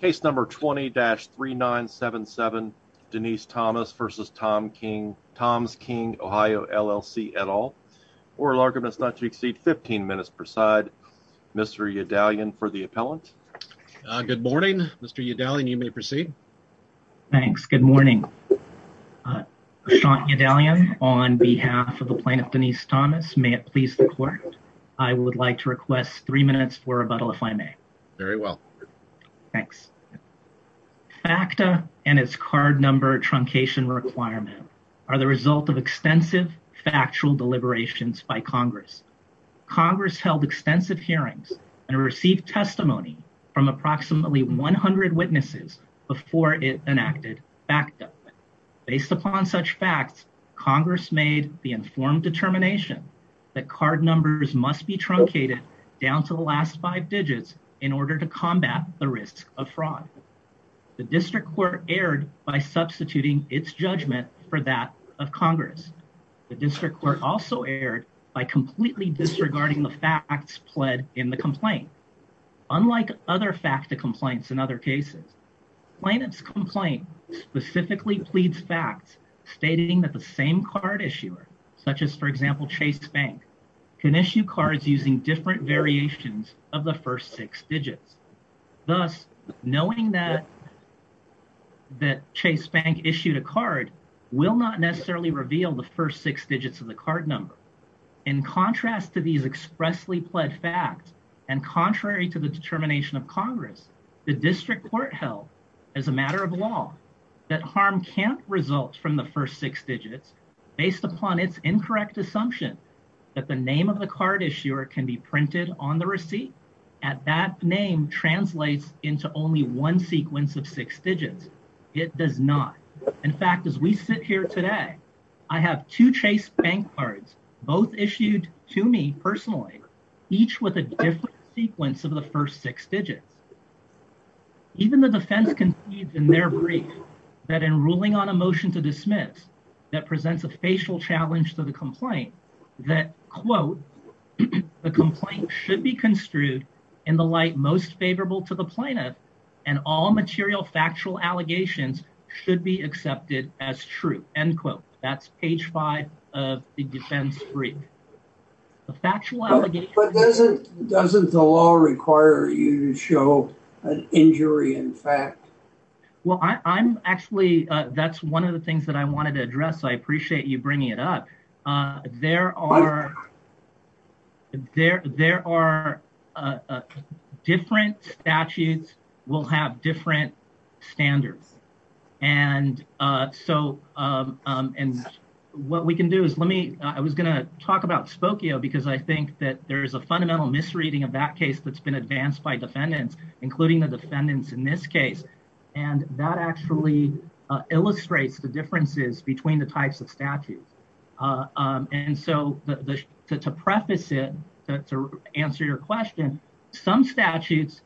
Case number 20-3977 Denece Thomas v. Toms King Ohio LLC et al. Oral argument is not to exceed 15 minutes per side. Mr. Yedalyan for the appellant. Good morning Mr. Yedalyan, you may proceed. Thanks, good morning. Sean Yedalyan on behalf of the plaintiff Denece Thomas, may it please the court, I would like to request three minutes for rebuttal if I may. Very well. Thanks. FACTA and its card number truncation requirement are the result of extensive factual deliberations by Congress. Congress held extensive hearings and received testimony from approximately 100 witnesses before it enacted FACTA. Based upon such facts, Congress made the informed determination that card numbers must be truncated down to the last five digits in order to combat the risk of fraud. The district court erred by substituting its judgment for that of Congress. The district court also erred by completely disregarding the facts pled in the complaint. Unlike other FACTA complaints in other cases, plaintiff's complaint specifically pleads facts stating that the same card issuer, such as for example Chase Bank, can issue cards using different variations of the first six digits. Thus knowing that that Chase Bank issued a card will not necessarily reveal the first six digits of the card number. In contrast to these expressly pled facts and contrary to the determination of Congress, the district court held as a matter of law that harm can't result from the first six digits based upon its incorrect assumption that the name of the card issuer can be printed on the receipt and that name translates into only one sequence of six digits. It does not. In fact, as we sit here today, I have two Chase Bank cards, both issued to me personally, each with a different sequence of the first six digits. Even the defense concedes in their brief that in ruling on a motion to a facial challenge to the complaint that, quote, the complaint should be construed in the light most favorable to the plaintiff and all material factual allegations should be accepted as true, end quote. That's page five of the defense brief. The factual allegation... But doesn't the law require you to show an injury in fact? Well, I'm actually... That's one of the things that I wanted to address. I appreciate you bringing it up. There are different statutes will have different standards. And so what we can do is let me... I was going to talk about Spokio because I think that there is a fundamental misreading of that case that's been advanced by defendants, including the defendants in this case. And that actually illustrates the differences between the types of statutes. And so to preface it, to answer your question, some statutes,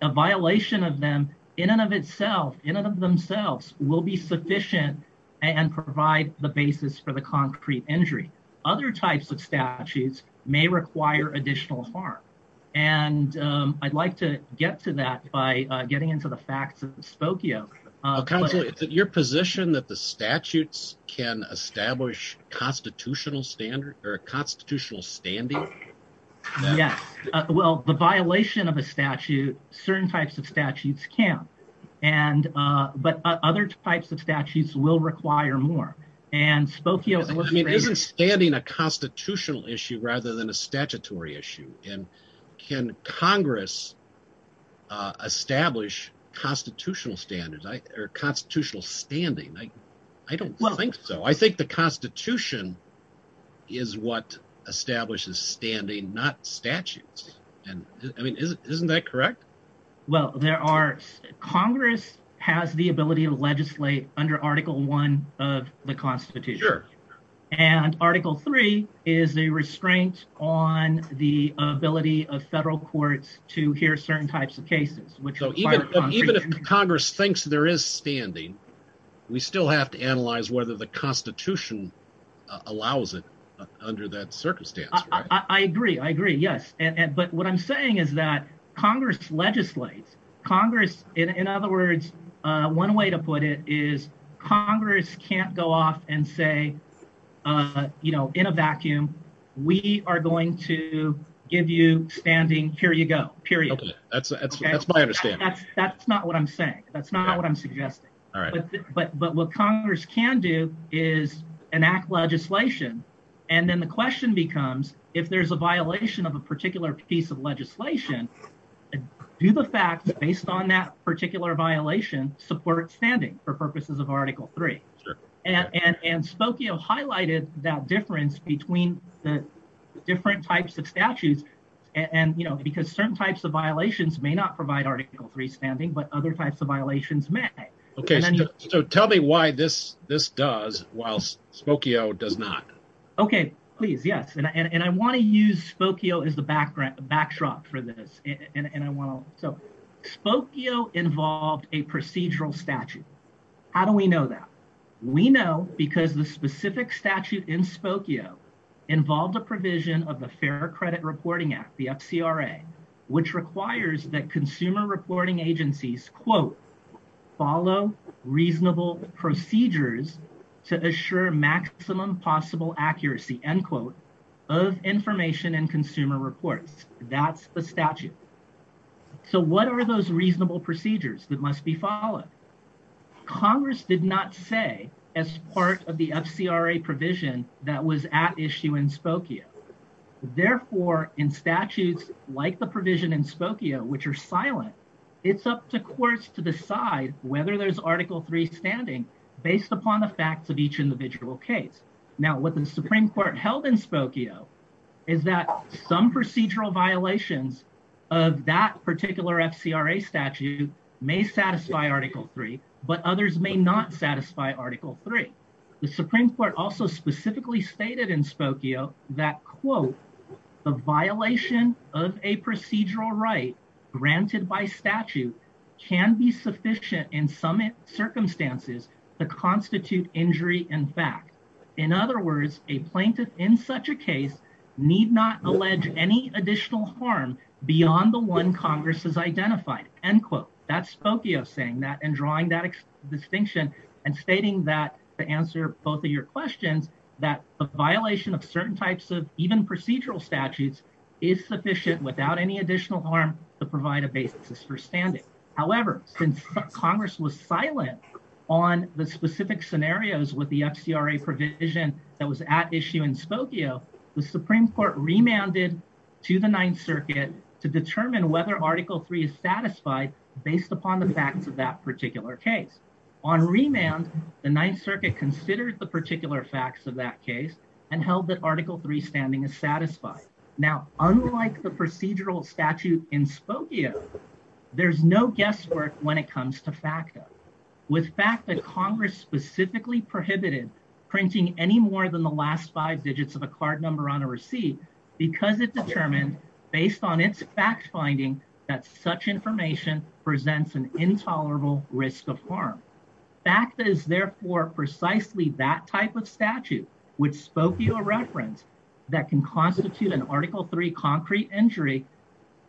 a violation of them in and of itself, in and of themselves will be sufficient and provide the basis for the concrete injury. Other types of statutes may require additional harm. And I'd like to get to that by getting into the facts of Spokio. Counselor, is it your position that the statutes can establish constitutional standard or a constitutional standing? Yes. Well, the violation of a statute, certain types of statutes can. But other types of statutes will require more. And Spokio... I mean, is standing a constitutional issue rather than a statutory issue? And can Congress establish constitutional standard or constitutional standing? I don't think so. I think the Constitution is what establishes standing, not statutes. And I mean, isn't that correct? Well, there are... Congress has the ability to legislate under Article One of the Constitution. And Article Three is the restraint on the ability of federal courts to hear certain types of cases. So even if Congress thinks there is standing, we still have to analyze whether the Constitution allows it under that circumstance. I agree. I agree. Yes. But what I'm saying is that Congress legislates. Congress, in other words, one way to put it is Congress can't go off and say, you know, in a vacuum, we are going to give you standing, here you go, period. That's my understanding. That's not what I'm saying. That's not what I'm suggesting. All right. But what Congress can do is enact legislation. And then the question becomes, if there's a violation of a particular piece of legislation, do the facts based on that particular violation support standing for purposes of Article Three? And Spokio highlighted that difference between the different types of statutes. And, you know, because certain types of violations may not provide Article Three standing, but other types of violations may. Okay. So tell me why this does, while Spokio does not. Okay. Please. Yes. And I want to use Spokio as the backdrop for this. And I want to. So Spokio involved a procedural statute. How do we know that? We know because the specific statute in Spokio involved a provision of the Fair Credit Reporting Act, the FCRA, which requires that consumer reporting agencies, quote, follow reasonable procedures to assure maximum possible accuracy, end quote, of information and consumer reports. That's the statute. So what are those reasonable procedures that must be followed? Congress did not say as part of the FCRA provision that was at issue in Spokio. Therefore, in statutes like the provision in Spokio, which are silent, it's up to courts to decide whether there's Article Three standing based upon the facts of each individual case. Now, what the Supreme Court held in Spokio is that some procedural violations of that particular FCRA statute may satisfy Article Three, but others may not satisfy Article Three. The Supreme Court also specifically stated in Spokio that, quote, the violation of a procedural right granted by statute can be sufficient in some circumstances to constitute injury in fact. In other words, a plaintiff in such a case need not allege any additional harm beyond the one Congress has identified, end quote. That's Spokio saying that and drawing that distinction and stating that to answer both your questions that the violation of certain types of even procedural statutes is sufficient without any additional harm to provide a basis for standing. However, since Congress was silent on the specific scenarios with the FCRA provision that was at issue in Spokio, the Supreme Court remanded to the Ninth Circuit to determine whether Article Three is satisfied based upon the facts of particular case. On remand, the Ninth Circuit considered the particular facts of that case and held that Article Three standing is satisfied. Now, unlike the procedural statute in Spokio, there's no guesswork when it comes to FACTA. With FACTA, Congress specifically prohibited printing any more than the last five digits of a card number on a receipt because it determined based on its fact-finding that such information presents an intolerable risk of harm. FACTA is therefore precisely that type of statute which Spokio referenced that can constitute an Article Three concrete injury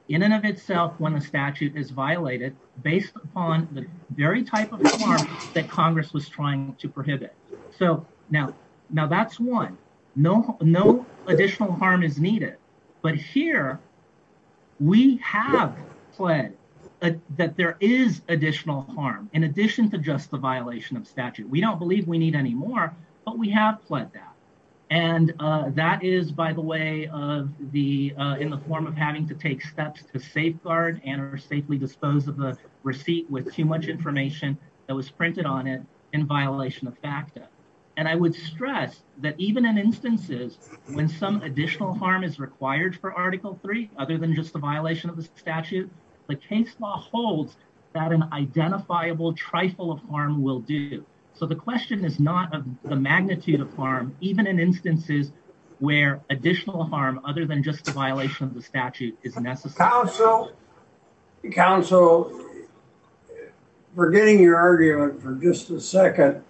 in and of itself when a statute is violated based upon the very type of harm that Congress was trying to prohibit. So now that's one. No additional harm is needed. But here, we have pled that there is additional harm in addition to just the violation of statute. We don't believe we need any more, but we have pled that. And that is, by the way, in the form of having to take steps to safeguard and or safely dispose of a receipt with too much information that was printed on it in violation of FACTA. And I would stress that even in instances when some additional harm is required for Article Three other than just the violation of the statute, the case law holds that an identifiable trifle of harm will do. So the question is not of the magnitude of harm, even in instances where additional harm other than just the violation of the statute is necessary. Counsel, forgetting your argument for just a second,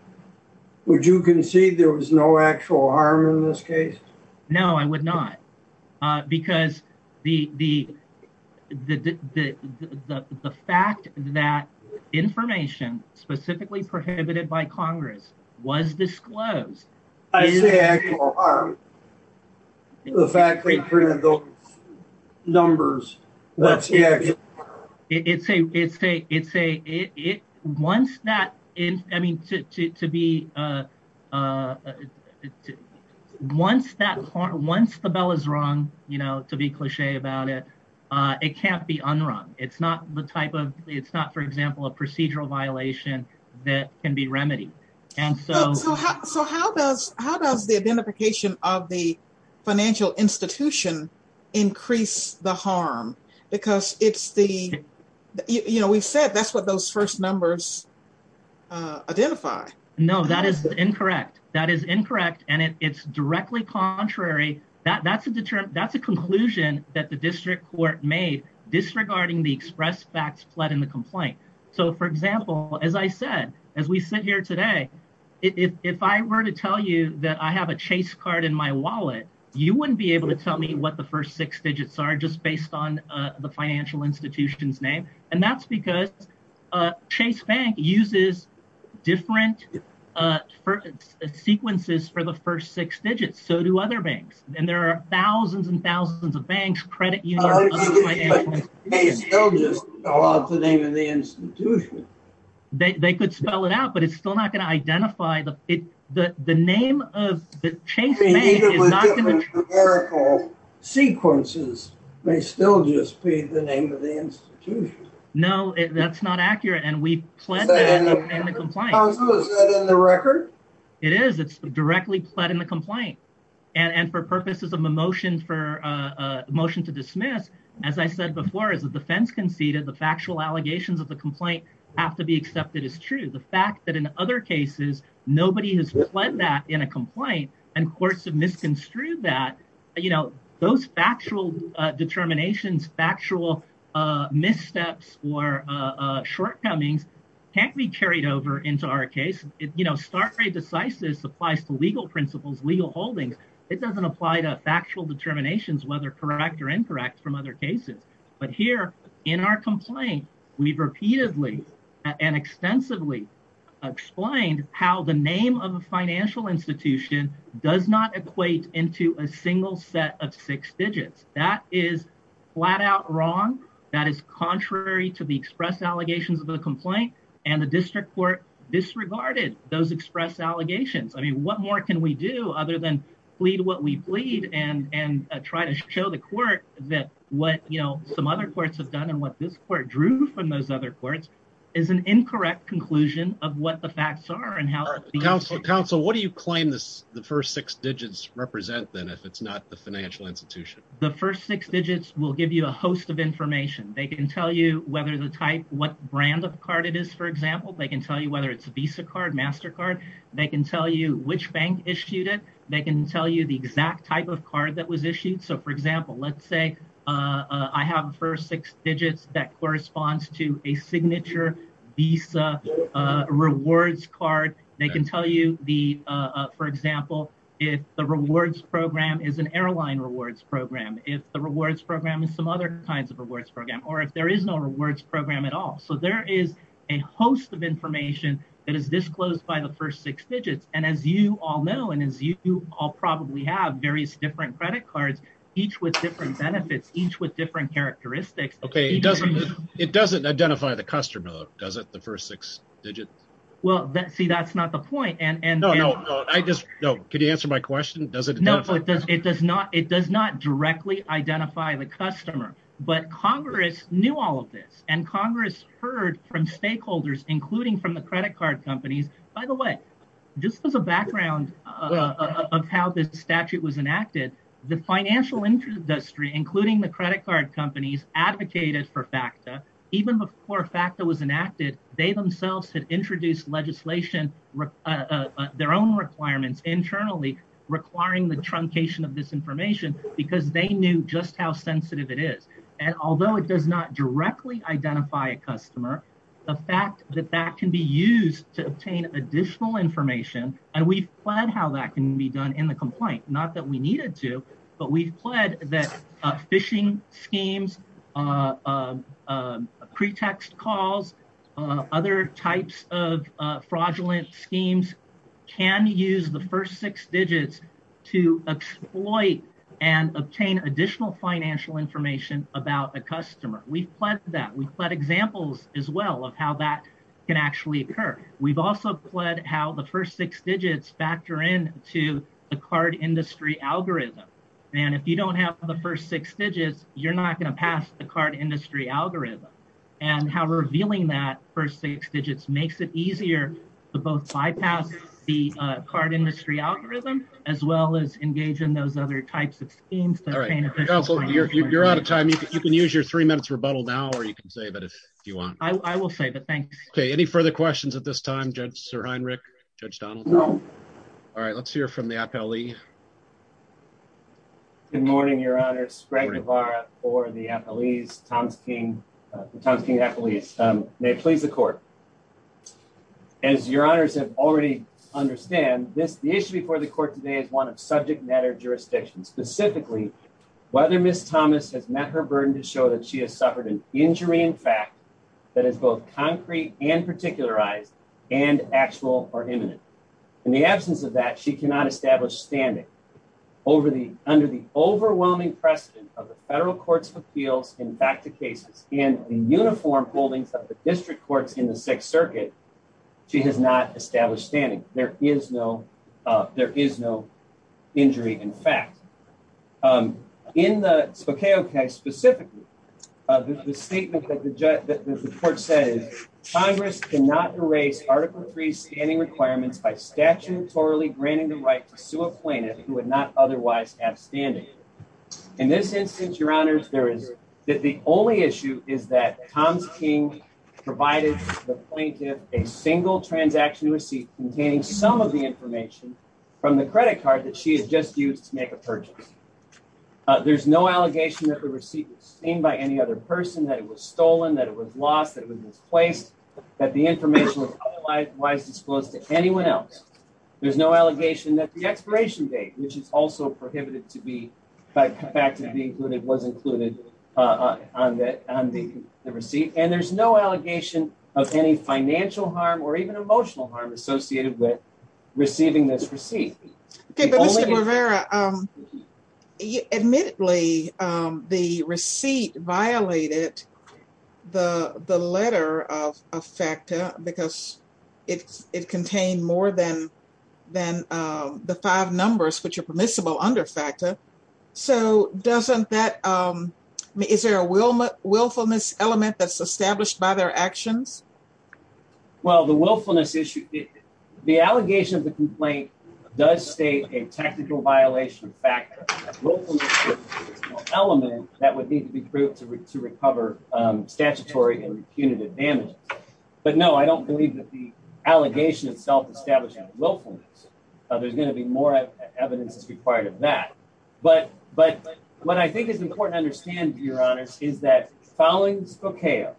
would you concede there was no actual harm in this case? No, I would not. Because the fact that information specifically prohibited by Congress was disclosed... I say actual harm. The fact they printed those numbers, that's the actual harm. It's a, it's a, it's a, it, it, once that is, I mean, to, to, to be, once that, once the bell is rung, you know, to be cliche about it, it can't be unrung. It's not the type of, it's not, for example, a procedural violation that can be remedied. And so... So how does, how does the identification of the financial institution increase the harm? Because it's the, you know, we've said that's what those first numbers identify. No, that is incorrect. That is incorrect. And it's directly contrary. That, that's a deterrent, that's a conclusion that the district court made disregarding the express facts fled in the complaint. So for example, as I said, as we sit here today, if I were to tell you that I have a chase card in my wallet, you wouldn't be able to tell me what the first six digits are just based on the financial institution's name. And that's because Chase Bank uses different sequences for the first six digits. So do other banks. And there are thousands and thousands of banks, credit unions, other financial institutions... They still just spell out the name of the institution. They could spell it out, but it's still not going to identify the, the, the name of the Chase Bank is not going to... Sequences may still just be the name of the institution. No, that's not accurate. And we pledged that in the complaint. How so? Is that in the record? It is. It's directly pled in the complaint. And for purposes of a motion for a motion to dismiss, as I said before, as the defense conceded, the factual allegations of the complaint have to be accepted as true. The fact that in other cases, nobody has pled that in a complaint and courts have misconstrued that, you know, those factual determinations, factual missteps or shortcomings can't be carried over into our case. You know, start rate decisive applies to legal principles, legal holdings. It doesn't apply to factual determinations, whether correct or incorrect from other cases. But here in our complaint, we've repeatedly and extensively explained how the name of a financial institution does not equate into a single set of six digits. That is flat out wrong. That is contrary to the express allegations of the complaint and the district court disregarded those express allegations. I mean, what more can we do other than plead what we plead and, and try to show the court that what, you know, some other courts have done and what this court drew from those other courts is an incorrect conclusion of what the facts are and how counsel counsel, what do you claim this? The first six digits represent that if it's not the financial institution, the first six digits will give you a host of information. They can tell you whether the type, what brand of card it is. For example, they can tell you whether it's a Visa card, MasterCard, they can tell you which bank issued it. They can tell you the exact type of card that was issued. So for example, let's say I have a first six digits that corresponds to a signature Visa rewards card. They can tell you the for example, if the rewards program is an airline rewards program, if the rewards program is some other kinds of rewards program, or if there is no rewards program at all. So there is a host of information that is disclosed by the first six cards, each with different benefits, each with different characteristics. Okay. It doesn't, it doesn't identify the customer, does it? The first six digits. Well, see, that's not the point. And no, no, no. I just, no. Could you answer my question? Does it? No, it does. It does not. It does not directly identify the customer, but Congress knew all of this and Congress heard from stakeholders, including from the credit card companies, by the way, just as a background of how this statute was enacted, the financial industry, including the credit card companies advocated for FACTA. Even before FACTA was enacted, they themselves had introduced legislation, their own requirements internally requiring the truncation of this information because they knew just how sensitive it is. And although it information and we've planned how that can be done in the complaint, not that we needed to, but we've pledged that phishing schemes, pretext calls, other types of fraudulent schemes can use the first six digits to exploit and obtain additional financial information about a customer. We've pledged that. We've pledged examples as well of how that can actually occur. We've also pledged how the first six digits factor in to the card industry algorithm. And if you don't have the first six digits, you're not going to pass the card industry algorithm and how revealing that first six digits makes it easier to both bypass the card industry algorithm, as well as engage in those other types of schemes. You're out of time. You can use your three minutes rebuttal now, or you can save it if you want. I will save it. Thanks. Okay. Any further questions at this time? Judge Sir Heinrich, Judge Donald. No. All right. Let's hear from the Appellee. Good morning, Your Honor. Greg Navarro for the Appellees, Tom's King, Tom's King Appellees. May it please the court. As Your Honors have already understand this, the issue before the court today is one of subject matter jurisdiction, specifically whether Ms. Thomas has met her burden to show that she has suffered an injury. In fact, that is both concrete and particularized and actual or imminent. In the absence of that, she cannot establish standing over the under the overwhelming precedent of the federal courts of appeals. In fact, the cases in the uniform holdings of the district courts in the Sixth Circuit, she has not established standing. There is no there is no injury. In fact, um, in the Spokane case specifically, the statement that the judge that the court said Congress cannot erase Article Three standing requirements by statutorily granting the right to sue a plaintiff who would not otherwise have standing. In this instance, Your Honors, there is that the only issue is that Tom's King provided the plaintiff a single transaction receipt containing some of the information from the credit card that she had just used to make a purchase. There's no allegation that the receipt was seen by any other person, that it was stolen, that it was lost, that it was misplaced, that the information was otherwise disclosed to anyone else. There's no allegation that the expiration date, which is also prohibited to be back to be included, was included on the receipt. And there's no allegation of any financial harm or even receiving this receipt. Okay, but Mr. Rivera, um, admittedly, um, the receipt violated the letter of FACTA because it contained more than the five numbers which are permissible under FACTA. So doesn't that, um, is there a willfulness element that's established by their actions? Well, the willfulness issue, the allegation of the complaint does state a technical violation of FACTA. Willfulness is an element that would need to be proved to recover, um, statutory and punitive damages. But no, I don't believe that the allegation itself established willfulness. There's going to be more evidence that's required of that. But, but what I think is important to your honors is that following Spokane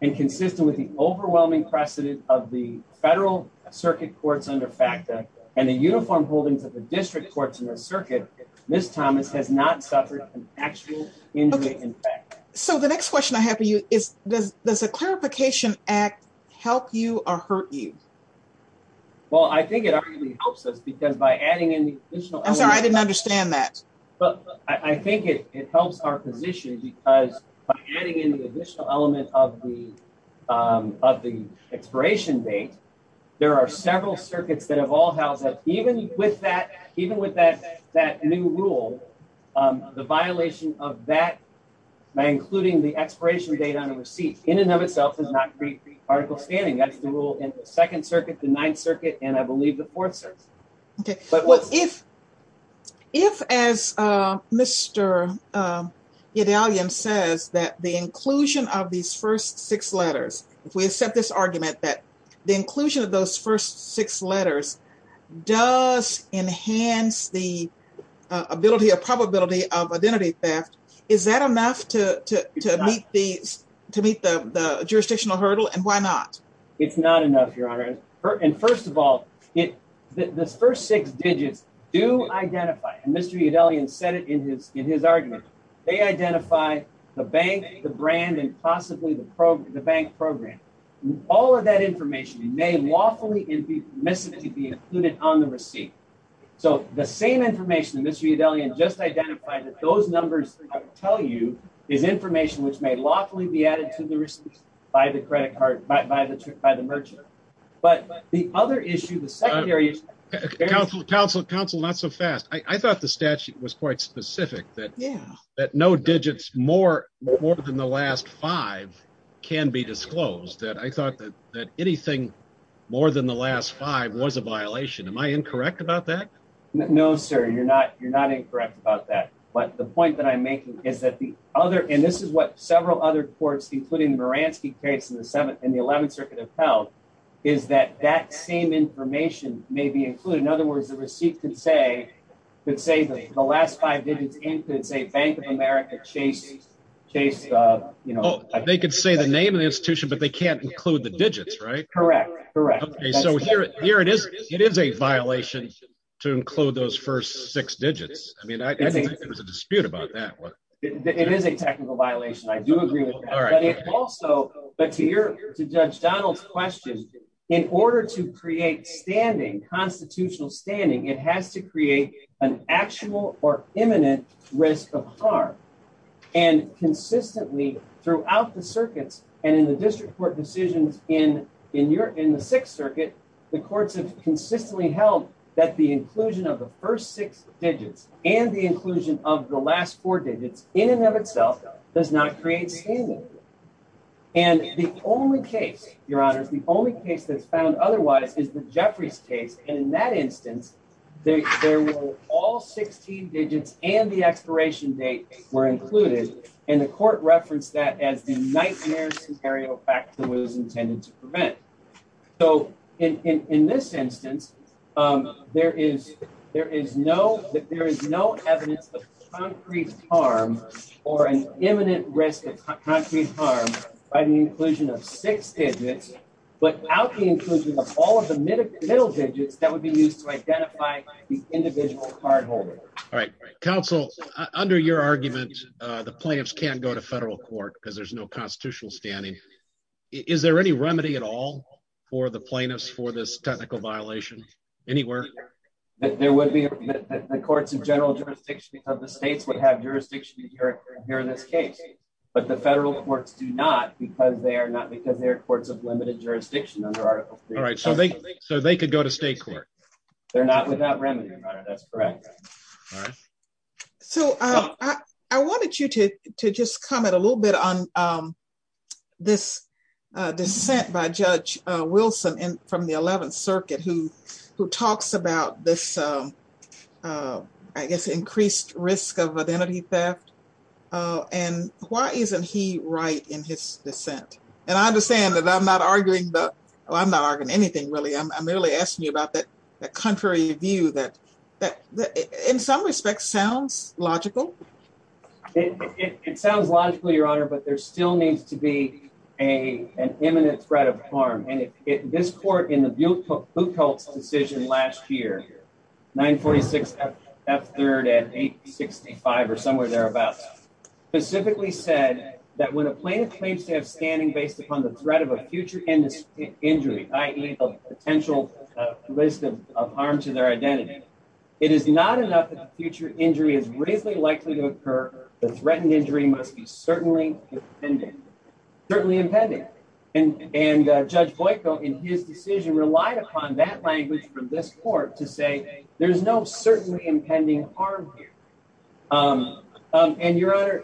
and consistent with the overwhelming precedent of the federal circuit courts under FACTA and the uniform holdings of the district courts in the circuit, Ms. Thomas has not suffered an actual injury in FACTA. So the next question I have for you is, does, does a clarification act help you or hurt you? Well, I think it arguably helps us because by adding in the additional... I'm sorry, I didn't understand that. But I think it, it helps our position because by adding in the additional element of the, um, of the expiration date, there are several circuits that have all housed up, even with that, even with that, that new rule, um, the violation of that by including the expiration date on a receipt in and of itself does not create the article standing. That's the rule in the second circuit, the ninth circuit, and I believe the fourth circuit. Okay. But what if, if, as, uh, Mr. Edalion says that the inclusion of these first six letters, if we accept this argument that the inclusion of those first six letters does enhance the ability or probability of identity theft, is that enough to, to, to meet to meet the jurisdictional hurdle and why not? It's not enough, Your Honor. And first of all, it, the first six digits do identify, and Mr. Edalion said it in his, in his argument, they identify the bank, the brand, and possibly the program, the bank program. All of that information may lawfully and permissibly be included on the receipt. So the same information that Mr. Edalion just identified that those numbers tell you is information which may lawfully be added to the receipt by the credit card, by, by the, by the merchant. But the other issue, the secondary issue. Counselor, counsel, counsel, not so fast. I thought the statute was quite specific that, that no digits more, more than the last five can be disclosed that I thought that, that anything more than the last five was a violation. Am I incorrect about that? No, sir. You're not, you're not incorrect about that. But the point that I'm making is that the other, and this is what several other courts, including the Moransky case in the seventh and the 11th circuit have held, is that that same information may be included. In other words, the receipt could say, could say that the last five digits include, say, Bank of America, Chase, Chase, uh, you know. They could say the name of the institution, but they can't include the digits, right? Correct, correct. Okay, so here, here it is, it is a violation to include those six digits. I mean, I think there's a dispute about that. It is a technical violation. I do agree with that, but it also, but to your, to judge Donald's question, in order to create standing constitutional standing, it has to create an actual or imminent risk of harm. And consistently throughout the circuits and in the district court decisions in, in your, in the sixth circuit, the courts have consistently held that the inclusion of the first six digits and the inclusion of the last four digits in and of itself does not create standing. And the only case, your honors, the only case that's found otherwise is the Jeffries case. And in that instance, there were all 16 digits and the expiration date were included. And the so in, in, in this instance, um, there is, there is no, there is no evidence of concrete harm or an imminent risk of concrete harm by the inclusion of six digits, but out the inclusion of all of the middle middle digits that would be used to identify the individual card holders. All right, counsel under your argument, uh, the plaintiffs can't go to federal court because there's no remedy at all for the plaintiffs for this technical violation anywhere that there would be the courts of general jurisdiction of the states would have jurisdiction here in this case, but the federal courts do not because they are not because they're courts of limited jurisdiction under article three. All right. So they, so they could go to state court. They're not without remedy. That's correct. All right. So I wanted you to, to just comment a little bit on, um, this, uh, dissent by judge, uh, Wilson from the 11th circuit, who, who talks about this, um, uh, I guess, increased risk of identity theft. Uh, and why isn't he right in his dissent? And I understand that I'm not arguing, but I'm not arguing anything really. I'm, I'm really asking you about that, that contrary view that, that in some respects sounds logical. It sounds logical, your honor, but there still needs to be a, an imminent threat of harm. And if it, this court in the view book, who calls the decision last year, nine 46 F F third and eight 65, or somewhere thereabouts specifically said that when a plaintiff claims to have standing based upon the threat of a future industry injury, potential list of harm to their identity, it is not enough that the future injury is really likely to occur. The threatened injury must be certainly impending, certainly impending. And, and, uh, judge Boyko in his decision relied upon that language from this court to say, there's no certainly impending harm here. Um, um, and your honor,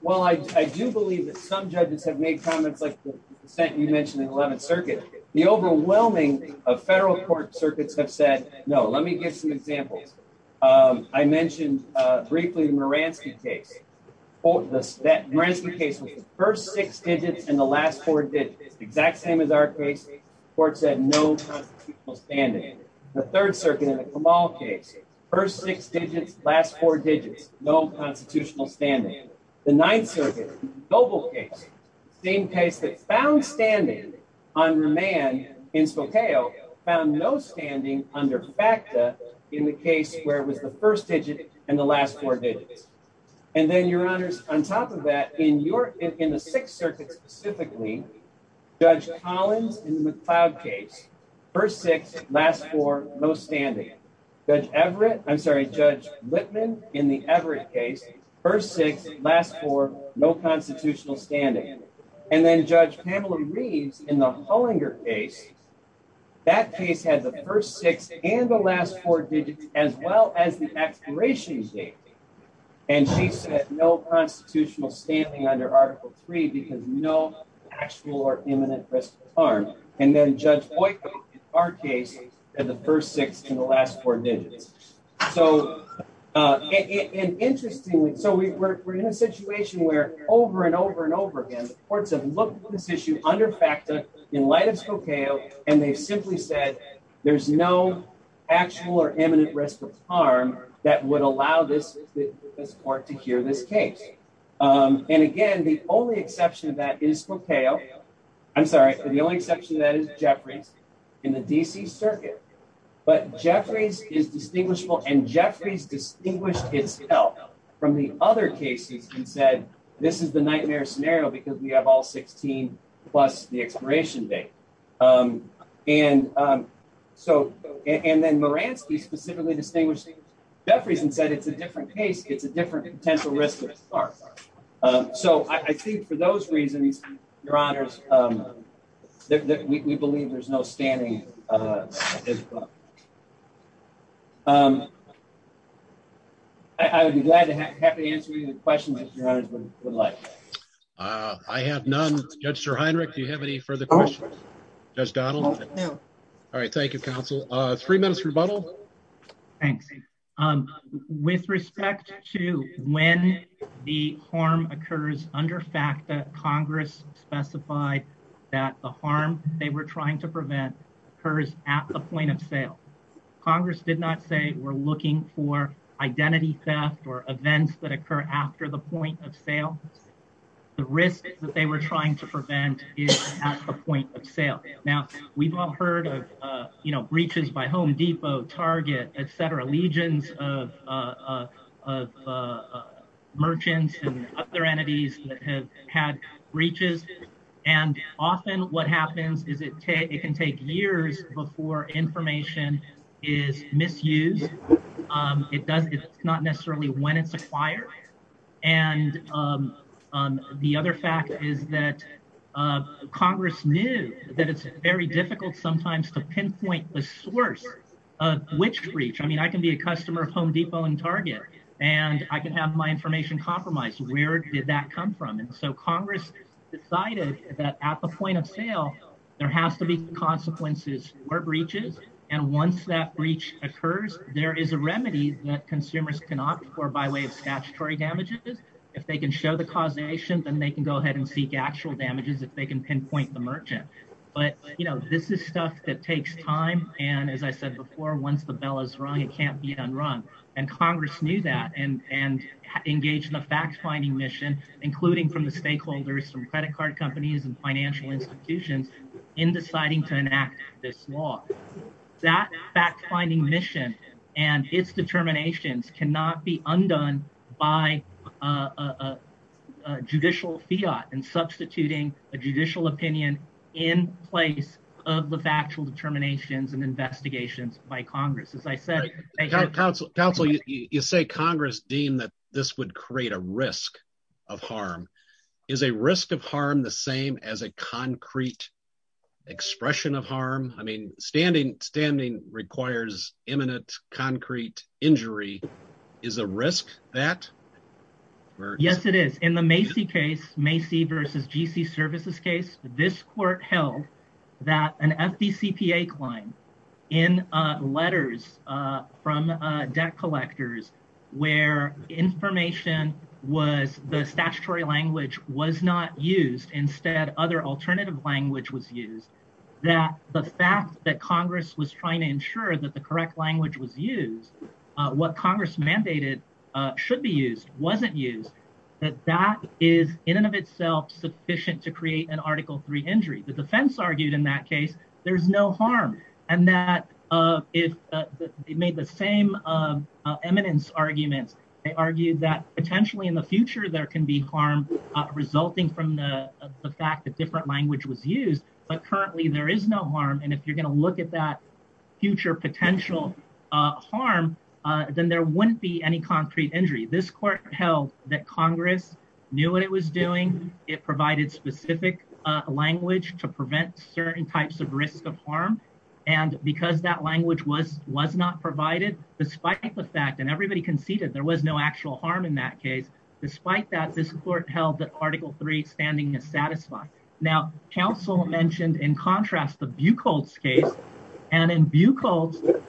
well, I, I do believe that some judges have made comments like the percent you mentioned in 11th circuit, the overwhelming of federal court circuits have said, no, let me give some examples. Um, I mentioned, uh, briefly, the Moransky case, that Moransky case was the first six digits and the last four digits, exact same as our case court said, no standing. The third circuit in the Kamal case, first six digits, last four digits, no constitutional standing. The ninth circuit, noble case, same case that found standing on the man in Spokane found no standing under FACTA in the case where it was the first digit and the last four digits. And then your honors, on top of that, in your, in the sixth circuit specifically, judge Collins in the McLeod case, first six, last four, no standing. Judge Everett, I'm sorry, judge Lipman in the Everett case, first six, last four, no constitutional standing. And then judge Pamela Reeves in the Hollinger case, that case had the first six and the last four digits, as well as the expiration date. And she said no constitutional standing under article three, because no actual or imminent risk of harm. And then judge Boyko in our case had the first six and the last four digits. So, uh, and interestingly, so we were, we're in a situation where over and over and over again, courts have looked at this issue under FACTA in light of Spokane. And they've simply said, there's no actual or imminent risk of harm that would allow this court to hear this case. And again, the only exception to that is Spokane. I'm sorry, the only exception to that is Jeffreys in the DC circuit, but Jeffreys is distinguishable and Jeffreys distinguished itself from the other cases and said, this is the nightmare scenario because we have all 16 plus the expiration date. Um, and, um, so, and then Moransky specifically distinguishing Jeffreys and said, it's a different case. It's a different potential risk of harm. So I think for those reasons, your honors, um, that we believe there's no standing. Uh, um, I would be glad to have to answer any of the questions that your honors would like. Uh, I have none. Judge Sir Heinrich, do you have any further questions? Judge Donald? No. All right. Thank you, counsel. Uh, three minutes rebuttal. Thanks. Um, with respect to when the harm occurs under FACTA, Congress specified that the harm they were trying to prevent occurs at the point of sale. Congress did not say we're looking for identity theft or events that occur after the point of sale. The risk that they were trying to prevent is at the point of sale. Now we've all heard of, uh, you know, breaches by Home Depot, Target, et cetera, legions of, uh, uh, uh, uh, uh, merchants and other entities that have breaches. And often what happens is it can take years before information is misused. Um, it does, it's not necessarily when it's acquired. And, um, um, the other fact is that, uh, Congress knew that it's very difficult sometimes to pinpoint the source of which breach. I mean, I can be a customer of Home Depot and Target and I can have my information compromised. Where did that come from? And so Congress decided that at the point of sale, there has to be consequences or breaches. And once that breach occurs, there is a remedy that consumers can opt for by way of statutory damages. If they can show the causation, then they can go ahead and seek actual damages if they can pinpoint the merchant. But you know, this is stuff that takes time. And as I said before, once the bell is rung, it can't be done wrong. And Congress knew that and, and engaged in the fact-finding mission, including from the stakeholders, from credit card companies and financial institutions in deciding to enact this law, that fact-finding mission and its determinations cannot be undone by a judicial fiat and substituting a judicial opinion in place of the factual determinations and investigations by Congress. As I said, counsel, you say Congress deemed that this would create a risk of harm. Is a risk of harm the same as a concrete expression of harm? I mean, standing, standing requires imminent concrete injury is a risk that. Yes, it is. In the Macy case, Macy versus GC services case, this court held that an FDCPA claim in letters from debt collectors where information was, the statutory language was not used. Instead, other alternative language was used that the fact that Congress was trying to ensure that the correct language was used, what Congress mandated should be used, wasn't used, that that is in and of itself sufficient to create an article three injury. The defense argued in that case, there's no harm. And that if they made the same eminence arguments, they argued that potentially in the future, there can be harm resulting from the fact that different language was used. But currently there is no harm. And if you're going to look at that future potential harm, then there wouldn't be any concrete injury. This court held that Congress knew what it was doing. It provided specific language to prevent certain types of risk of harm. And because that language was, was not provided, despite the fact, and everybody conceded there was no actual harm in that case. Despite that, this court held that article three standing is satisfied. Now, counsel mentioned in contrast, the Buchholz case and in Buchholz,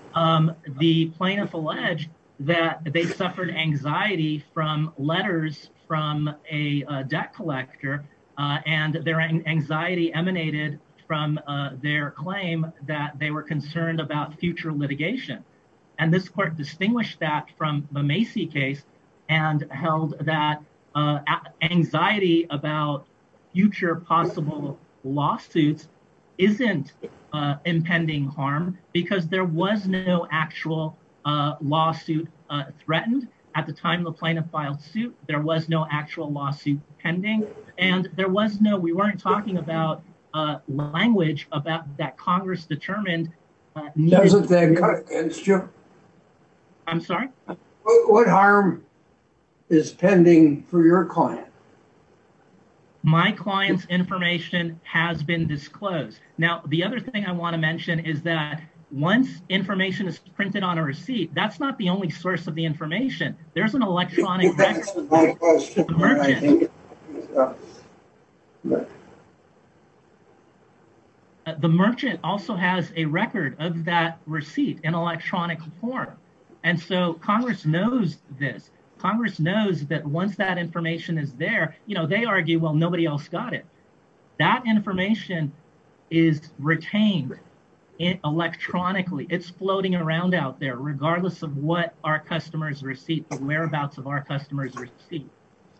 the plaintiff alleged that they suffered anxiety from letters from a debt collector and their anxiety emanated from their claim that they were concerned about future litigation. And this court distinguished that from the Macy case and held that anxiety about future possible lawsuits isn't impending harm because there was no actual lawsuit threatened at the time the plaintiff filed suit. There was no actual lawsuit pending and there was no, we weren't talking about language about that Congress determined. What harm is pending for your client? My client's information has been disclosed. Now, the other thing I want to mention is that once information is printed on a receipt, that's not the only source of the information. There's an electronic, the merchant also has a record of that receipt in electronic form. And so Congress knows this, Congress knows that once that information is there, you know, they argue, well, nobody else got it. That information is retained electronically. It's floating around out there, regardless of what our customer's receipt, the whereabouts of our customer's receipt.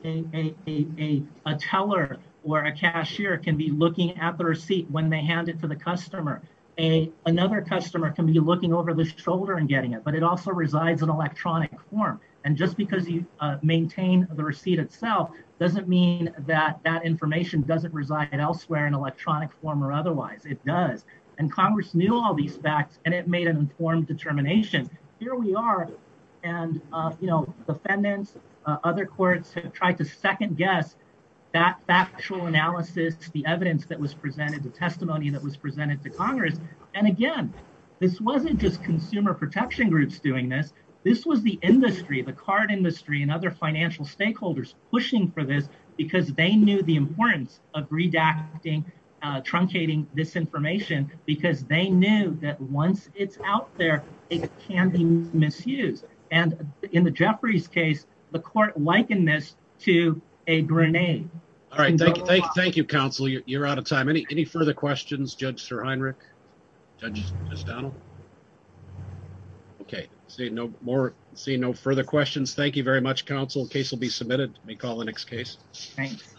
A teller or a cashier can be looking at the receipt when they hand it to the customer. Another customer can be looking over the shoulder and getting it, but it also resides in electronic form. And just because you maintain the receipt itself doesn't mean that that information doesn't reside elsewhere in electronic form or otherwise it does. And Congress knew all these facts and made an informed determination. Here we are, and, you know, defendants, other courts have tried to second guess that factual analysis, the evidence that was presented, the testimony that was presented to Congress. And again, this wasn't just consumer protection groups doing this. This was the industry, the card industry and other financial stakeholders pushing for this because they knew the importance of redacting, truncating this information because they knew that once it's out there, it can be misused. And in the Jeffries case, the court likened this to a grenade. All right. Thank you. Thank you, counsel. You're out of time. Any further questions? Judge Sir Heinrich? Judge McDonnell? Okay. See no more. See no further questions. Thank you very much, counsel. Case will be submitted. We call the next case. Thanks.